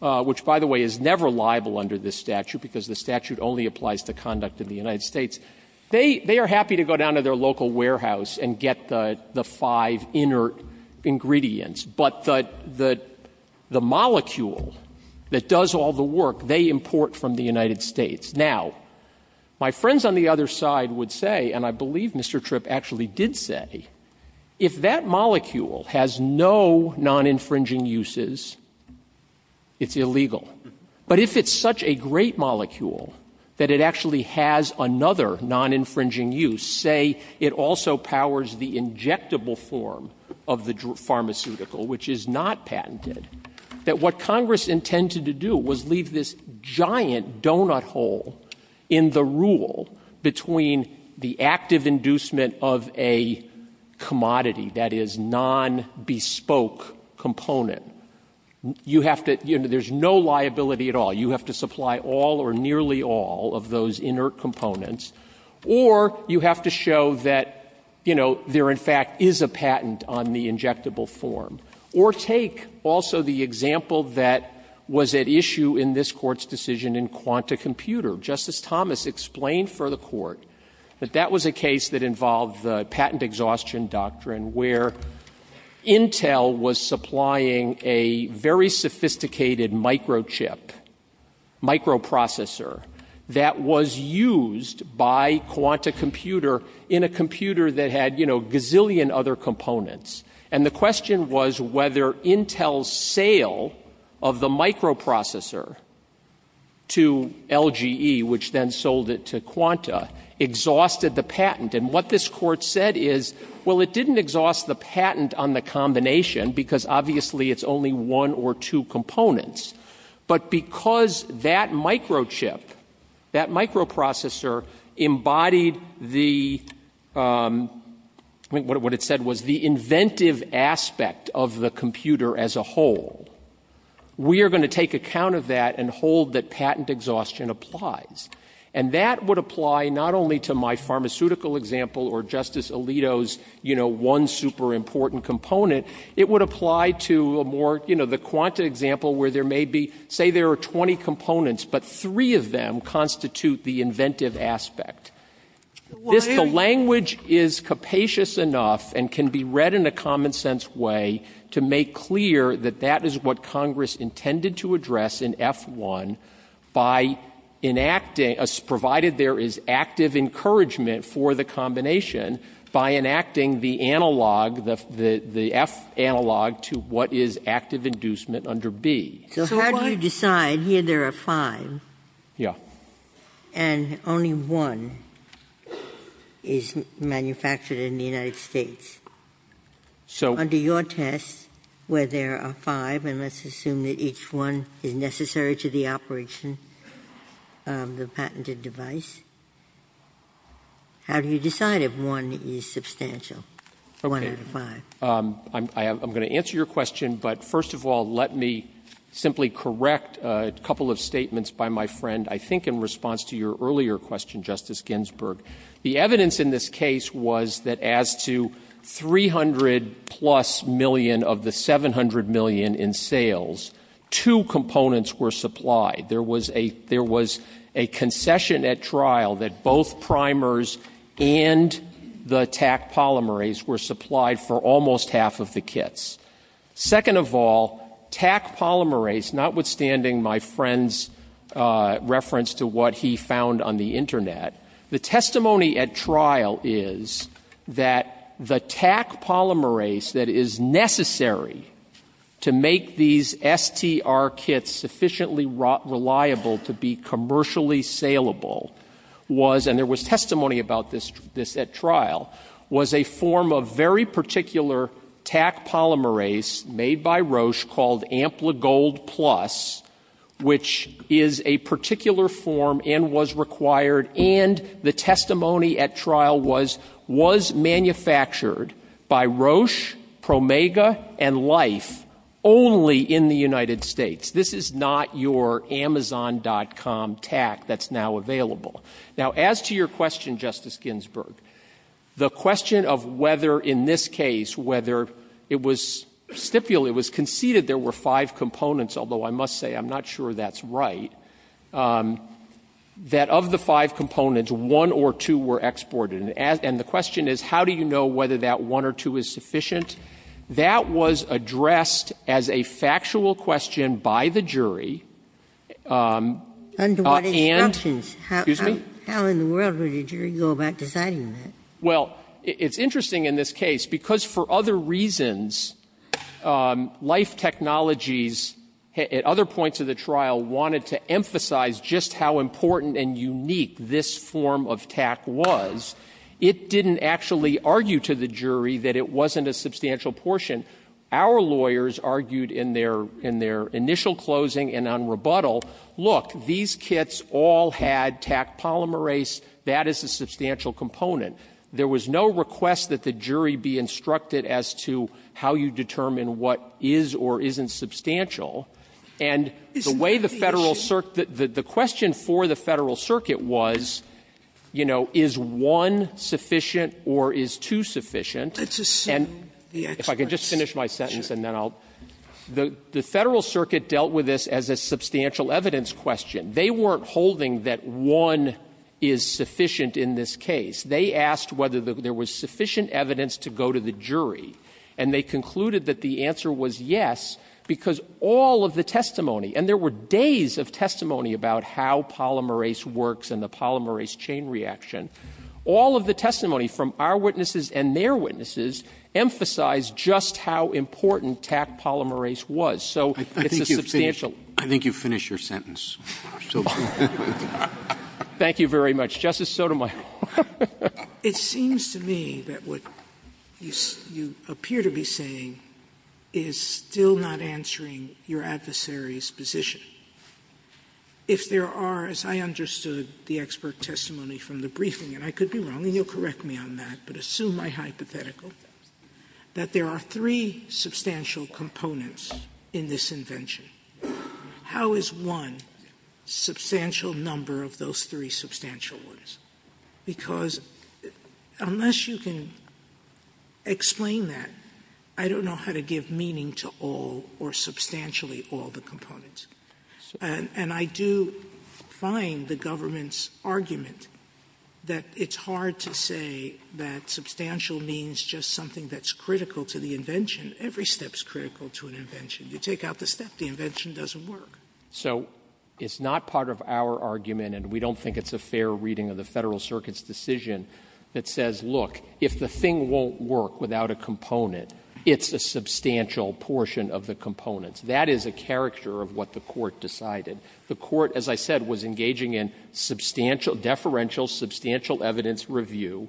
which, by the way, is never liable under this statute, because the statute only applies to conduct in the United States, they are happy to go down to their local warehouse and get the five inert ingredients. But the molecule that does all the work, they import from the United States. Now, my friends on the other side would say, and I believe Mr. Tripp actually did say, if that molecule has no non-infringing uses, it's illegal. But if it's such a great molecule that it actually has another non-infringing use, say it also powers the injectable form of the pharmaceutical, which is not patented, that what Congress intended to do was leave this giant donut hole in the rule between the active inducement of a commodity, that is, non-bespoke component. You have to—you know, there's no liability at all. You have to supply all or nearly all of those inert components. Or you have to show that, you know, there in fact is a patent on the injectable form. Or take also the example that was at issue in this Court's decision in Quanta Computer. Justice Thomas explained for the Court that that was a case that involved the patent exhaustion doctrine, where Intel was supplying a very sophisticated microchip, microprocessor, that was used by Quanta Computer in a computer that had, you know, a gazillion other components. And the question was whether Intel's sale of the microprocessor to LGE, which then sold it to Quanta, exhausted the patent. And what this Court said is, well, it didn't exhaust the patent on the combination because obviously it's only one or two components. But because that microchip, that microprocessor embodied the—I mean, what it said was the inventive aspect of the computer as a whole, we are going to take account of that and hold that patent exhaustion applies. And that would apply not only to my pharmaceutical example or Justice Alito's, you know, one super important component. It would apply to a more, you know, the Quanta example, where there may be, say, there are 20 components, but three of them constitute the inventive aspect. This, the language is capacious enough and can be read in a common-sense way to make clear that that is what Congress intended to address in F-1 by enacting as provided there is active encouragement for the combination by enacting the analog, the F analog, to what is active inducement under B. So how do you decide, here there are five, and only one? Is manufactured in the United States. Under your test, where there are five, and let's assume that each one is necessary to the operation of the patented device, how do you decide if one is substantial, one out of five? Waxman. I'm going to answer your question, but first of all, let me simply correct a couple of statements by my friend. I think in response to your earlier question, Justice Ginsburg, the evidence in this case was that as to 300-plus million of the 700 million in sales, two components were supplied. There was a concession at trial that both primers and the TAC polymerase were supplied for almost half of the kits. Second of all, TAC polymerase, notwithstanding my friend's reference to what he found on the internet, the testimony at trial is that the TAC polymerase that is necessary to make these STR kits sufficiently reliable to be commercially saleable was, and there was a TAC polymerase made by Roche called Ampligold Plus, which is a particular form and was required, and the testimony at trial was, was manufactured by Roche, Promega, and Life only in the United States. This is not your Amazon.com TAC that's now available. Now, as to your question, Justice Ginsburg, the question of whether in this case, whether it was stipulated, it was conceded there were five components, although I must say I'm not sure that's right, that of the five components, one or two were exported, and the question is, how do you know whether that one or two is sufficient? That was addressed as a factual question by the jury. And the jury go about deciding that. Well, it's interesting in this case, because for other reasons, Life Technologies at other points of the trial wanted to emphasize just how important and unique this form of TAC was. It didn't actually argue to the jury that it wasn't a substantial portion. Our lawyers argued in their, in their initial closing and on rebuttal, look, these kits all had TAC polymerase. That is a substantial component. There was no request that the jury be instructed as to how you determine what is or isn't substantial. And the way the Federal Circuit, the question for the Federal Circuit was, you know, is one sufficient or is two sufficient? And if I can just finish my sentence and then I'll the Federal Circuit dealt with this as a substantial evidence question. They weren't holding that one is sufficient in this case. They asked whether there was sufficient evidence to go to the jury. And they concluded that the answer was yes, because all of the testimony, and there were days of testimony about how polymerase works and the polymerase chain reaction. All of the testimony from our witnesses and their witnesses emphasized just how important TAC polymerase was. So it's a substantial. Roberts. I think you've finished your sentence. Thank you very much. Justice Sotomayor. Sotomayor. It seems to me that what you appear to be saying is still not answering your adversary's position. If there are, as I understood the expert testimony from the briefing, and I could be wrong, and you'll correct me on that, but assume my hypothetical, that there are three substantial components in this invention, how is one substantial number of those three substantial ones? Because unless you can explain that, I don't know how to give meaning to all or substantially all the components. And I do find the government's argument that it's hard to say that substantial means just something that's critical to the invention. Every step is critical to an invention. You take out the step, the invention doesn't work. So it's not part of our argument, and we don't think it's a fair reading of the Federal Circuit's decision, that says, look, if the thing won't work without a component, it's a substantial portion of the components. That is a caricature of what the Court decided. The Court, as I said, was engaging in deferential substantial evidence review.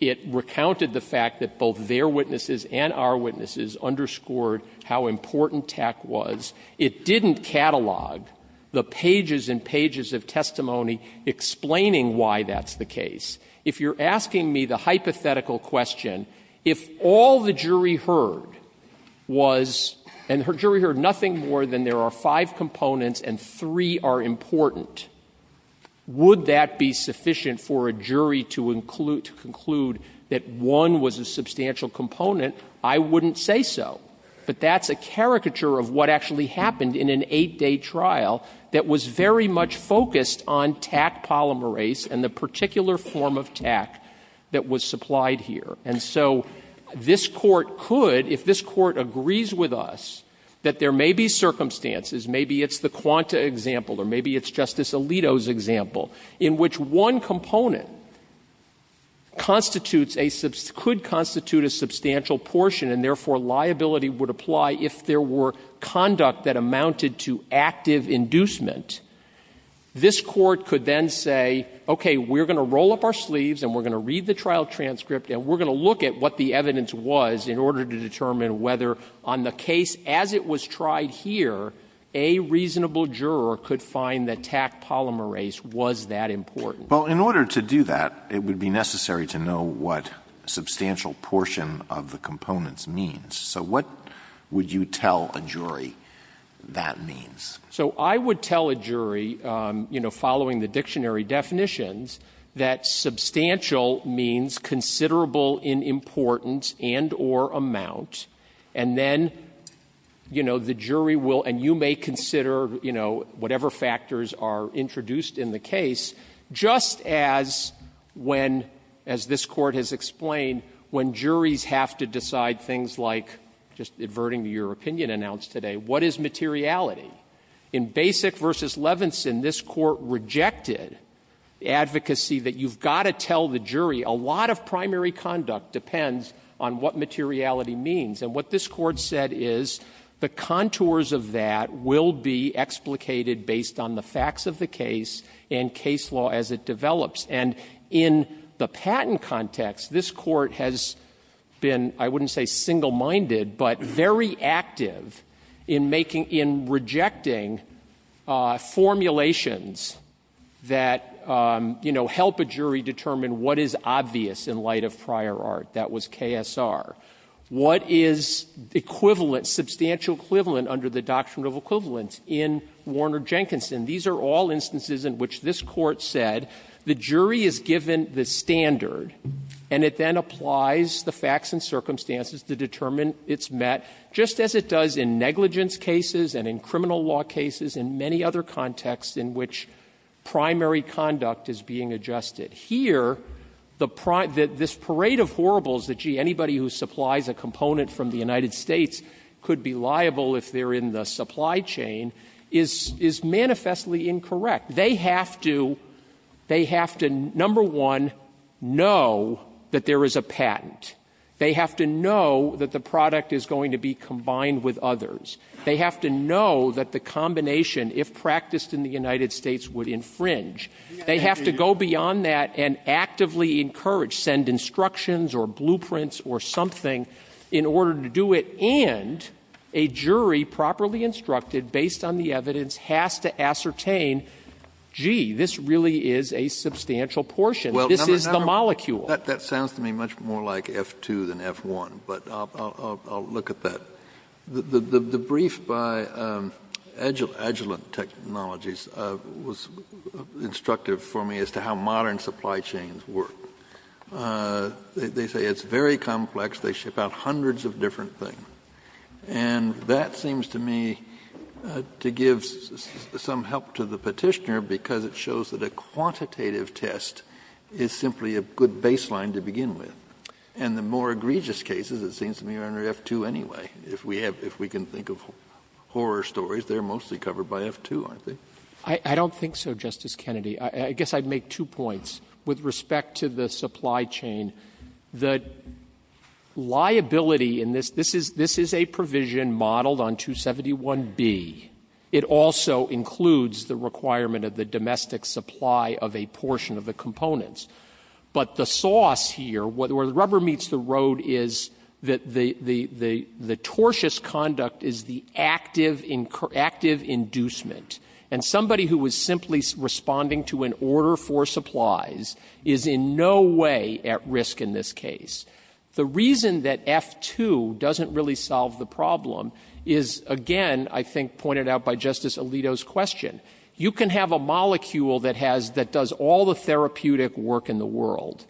It recounted the fact that both their witnesses and our witnesses underscored how important TAC was. It didn't catalog the pages and pages of testimony explaining why that's the case. If you're asking me the hypothetical question, if all the jury heard was, and the jury heard nothing more than there are five components and three are important, would that be sufficient for a jury to include to conclude that one was a substantial component? I wouldn't say so. But that's a caricature of what actually happened in an eight-day trial that was very much focused on TAC polymerase and the particular form of TAC that was supplied here. And so this Court could, if this Court agrees with us that there may be circumstances, maybe it's the Quanta example or maybe it's Justice Alito's example, in which one component constitutes a sub --" could constitute a substantial portion and therefore liability would apply if there were conduct that amounted to active inducement, this Court could then say, okay, we're going to roll up our sleeves and we're going to read the trial transcript and we're going to look at what the evidence was in order to determine whether on the case as it was tried here, a reasonable juror could find that TAC polymerase was that important. Alito Well, in order to do that, it would be necessary to know what substantial portion of the components means. So what would you tell a jury that means? Waxman So I would tell a jury, you know, following the dictionary definitions, that substantial means considerable in importance and or amount, and then, you know, the jury will and you may consider, you know, whatever factors are introduced in the case, just as when, as this Court has explained, when juries have to decide things like, just adverting to your opinion announced today, what is materiality? In Basic v. Levinson, this Court rejected advocacy that you've got to tell the jury a lot of primary conduct depends on what materiality means. And what this Court said is the contours of that will be explicated based on the facts of the case and case law as it develops. And in the patent context, this Court has been, I wouldn't say single-minded, but very active in making, in rejecting formulations that, you know, help a jury determine what is obvious in light of prior art. That was KSR. What is equivalent, substantial equivalent under the Doctrine of Equivalence in Warner-Jenkinson? These are all instances in which this Court said the jury is given the standard, and it then applies the facts and circumstances to determine its met, just as it does in negligence cases and in criminal law cases and many other contexts in which primary conduct is being adjusted. Here, the primary, this parade of horribles that, gee, anybody who supplies a component from the United States could be liable if they're in the supply chain, is, is manifest ly incorrect. They have to, they have to, number one, know that there is a patent. They have to know that the product is going to be combined with others. They have to know that the combination, if practiced in the United States, would infringe. They have to go beyond that and actively encourage, send instructions or blueprints or something in order to do it, and a jury, properly instructed, based on the evidence, has to ascertain, gee, this really is a substantial portion. This is the molecule. Kennedy, that sounds to me much more like F-2 than F-1, but I'll look at that. The brief by Agilent Technologies was instructive for me as to how modern supply chains work. They say it's very complex. They ship out hundreds of different things. And that seems to me to give some help to the Petitioner because it shows that a quantitative test is simply a good baseline to begin with. And the more egregious cases, it seems to me, are under F-2 anyway. If we have, if we can think of horror stories, they're mostly covered by F-2, aren't they? Waxman. I don't think so, Justice Kennedy. I guess I'd make two points with respect to the supply chain. The liability in this, this is a provision modeled on 271B. It also includes the requirement of the domestic supply of a portion of the components. But the sauce here, where the rubber meets the road, is that the tortuous conduct is the active inducement. And somebody who is simply responding to an order for supplies is in no way at risk in this case. The reason that F-2 doesn't really solve the problem is, again, I think pointed out by Justice Alito's question. You can have a molecule that has, that does all the therapeutic work in the world.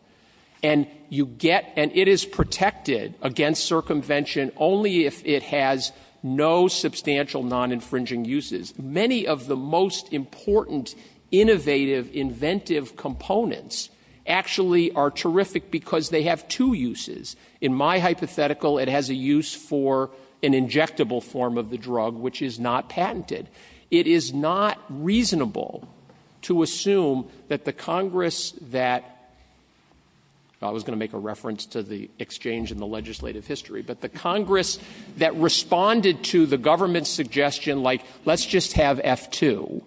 And you get, and it is protected against circumvention only if it has no substantial non-infringing uses. Many of the most important, innovative, inventive components actually are terrific because they have two uses. In my hypothetical, it has a use for an injectable form of the drug, which is not patented. It is not reasonable to assume that the Congress that, I was going to make a reference to the exchange in the legislative history, but the Congress that responded to the government's suggestion like, let's just have F-2,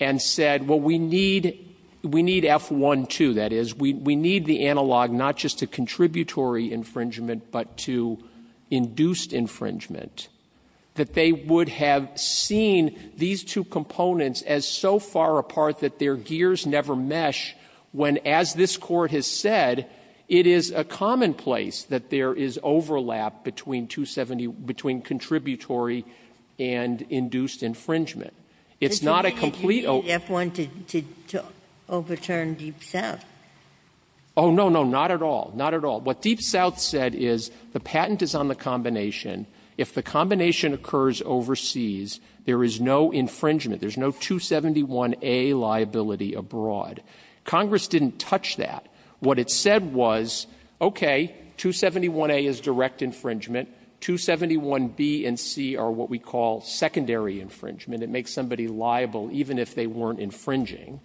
and said, well, we need, we need F-1-2, that is. We need the analog not just to contributory infringement, but to induced infringement. That they would have seen these two components as so far apart that their gears never mesh, when, as this Court has said, it is a commonplace that there is overlap between 270, between contributory and induced infringement. It's not a complete overlap. Oh, no, no, not at all. Not at all. What Deep South said is, the patent is on the combination. If the combination occurs overseas, there is no infringement. There is no 271A liability abroad. Congress didn't touch that. What it said was, okay, 271A is direct infringement, 271B and C are what we call secondary infringement. It makes somebody liable, even if they weren't infringing.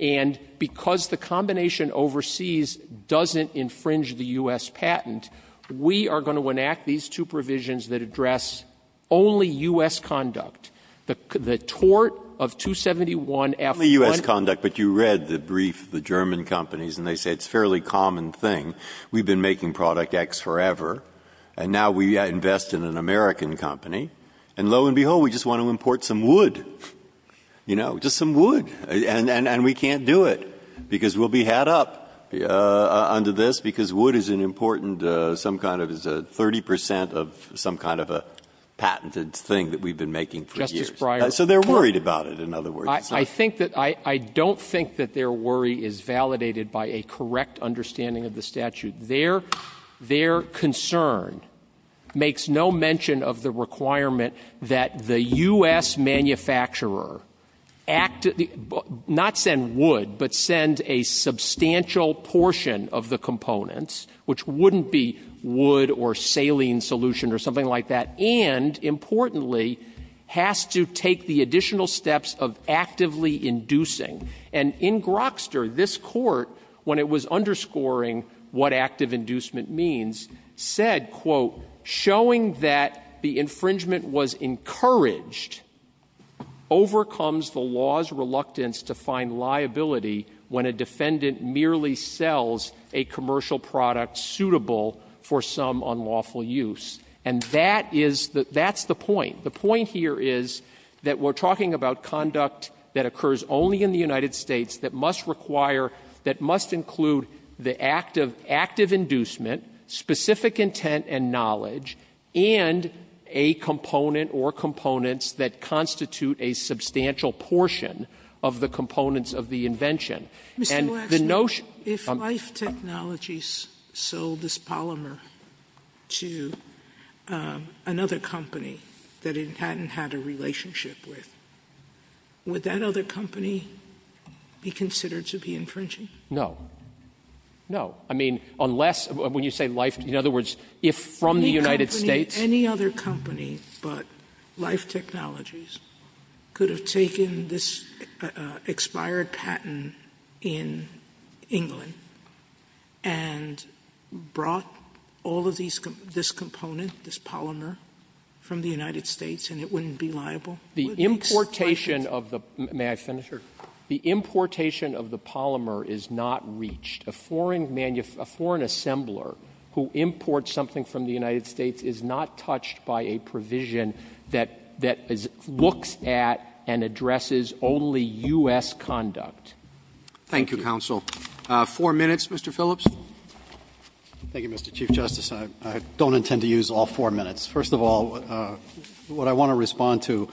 And because the combination overseas doesn't infringe the U.S. patent, we are going to enact these two provisions that address only U.S. conduct. The tort of 271F-1-2- Only U.S. conduct, but you read the brief of the German companies, and they say it's a fairly common thing. We've been making product X forever, and now we invest in an American company, and lo and behold, we just want to import some wood, you know, just some wood. And we can't do it, because we'll be had up under this, because wood is an important some kind of 30 percent of some kind of a patented thing that we've been making for years. So they're worried about it, in other words. I think that they're worried is validated by a correct understanding of the statute. Their concern makes no mention of the requirement that the U.S. manufacturer not send wood, but send a substantial portion of the components, which wouldn't be wood or saline solution or something like that, and importantly, has to take the additional steps of actively inducing. And in Grokster, this Court, when it was underscoring what active inducement means, said, quote, showing that the infringement was encouraged overcomes the law's reluctance to find liability when a defendant merely sells a commercial product suitable for some unlawful use. And that is the point. The point here is that we're talking about conduct that occurs only in the United States that must require, that must include the active inducement, specific intent and knowledge, and a component or components that constitute a substantial portion of the components of the invention. And the notion of the notion of life technologies sold this polymer to another company that it hadn't had a relationship with, would that other company be considered to be infringing? No. No. I mean, unless, when you say life, in other words, if from the United States Any company, any other company but Life Technologies could have taken this expired patent in England and brought all of these, this component, this polymer from the United States, and it wouldn't be liable? The importation of the, may I finish? Sure. The importation of the polymer is not reached. A foreign, a foreign assembler who imports something from the United States is not exempt. Thank you, counsel. Four minutes, Mr. Phillips. Thank you, Mr. Chief Justice. I don't intend to use all four minutes. First of all, what I want to respond to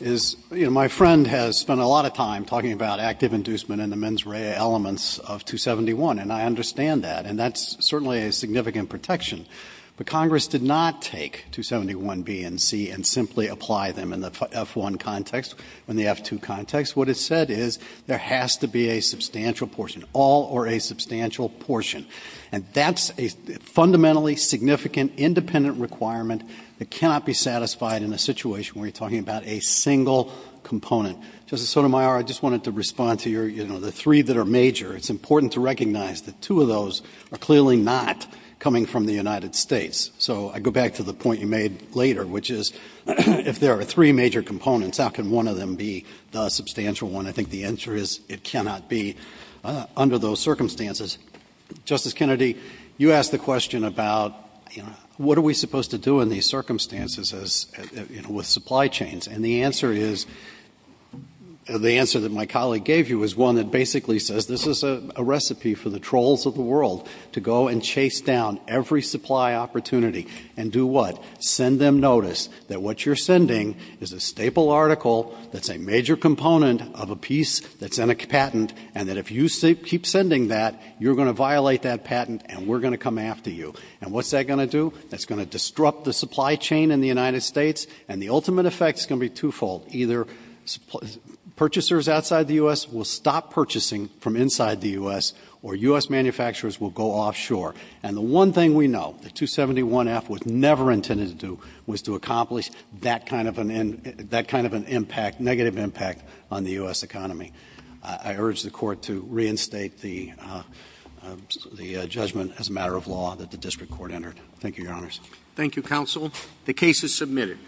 is, you know, my friend has spent a lot of time talking about active inducement and the mens rea elements of 271, and I understand that, and that's certainly a significant protection. But Congress did not take 271B and C and simply apply them in the F-1 context, in the F-2 context. What it said is there has to be a substantial portion, all or a substantial portion. And that's a fundamentally significant independent requirement that cannot be satisfied in a situation where you're talking about a single component. Justice Sotomayor, I just wanted to respond to your, you know, the three that are major. It's important to recognize that two of those are clearly not coming from the United States. So I go back to the point you made later, which is if there are three major components, how can one of them be the substantial one? I think the answer is it cannot be under those circumstances. Justice Kennedy, you asked the question about, you know, what are we supposed to do in these circumstances as, you know, with supply chains? And the answer is, the answer that my colleague gave you is one that basically says this is a recipe for the trolls of the world to go and chase down every supply opportunity and do what? Send them notice that what you're sending is a staple article that's a major component of a piece that's in a patent and that if you keep sending that, you're going to violate that patent and we're going to come after you. And what's that going to do? That's going to disrupt the supply chain in the United States and the ultimate effect is going to be twofold. Either purchasers outside the U.S. will stop purchasing from inside the U.S. or U.S. manufacturers will go offshore. And the one thing we know, the 271F was never intended to do, was to accomplish that kind of an impact, negative impact on the U.S. economy. I urge the Court to reinstate the judgment as a matter of law that the District Court entered. Thank you, Your Honors. Thank you, Counsel. The case is submitted.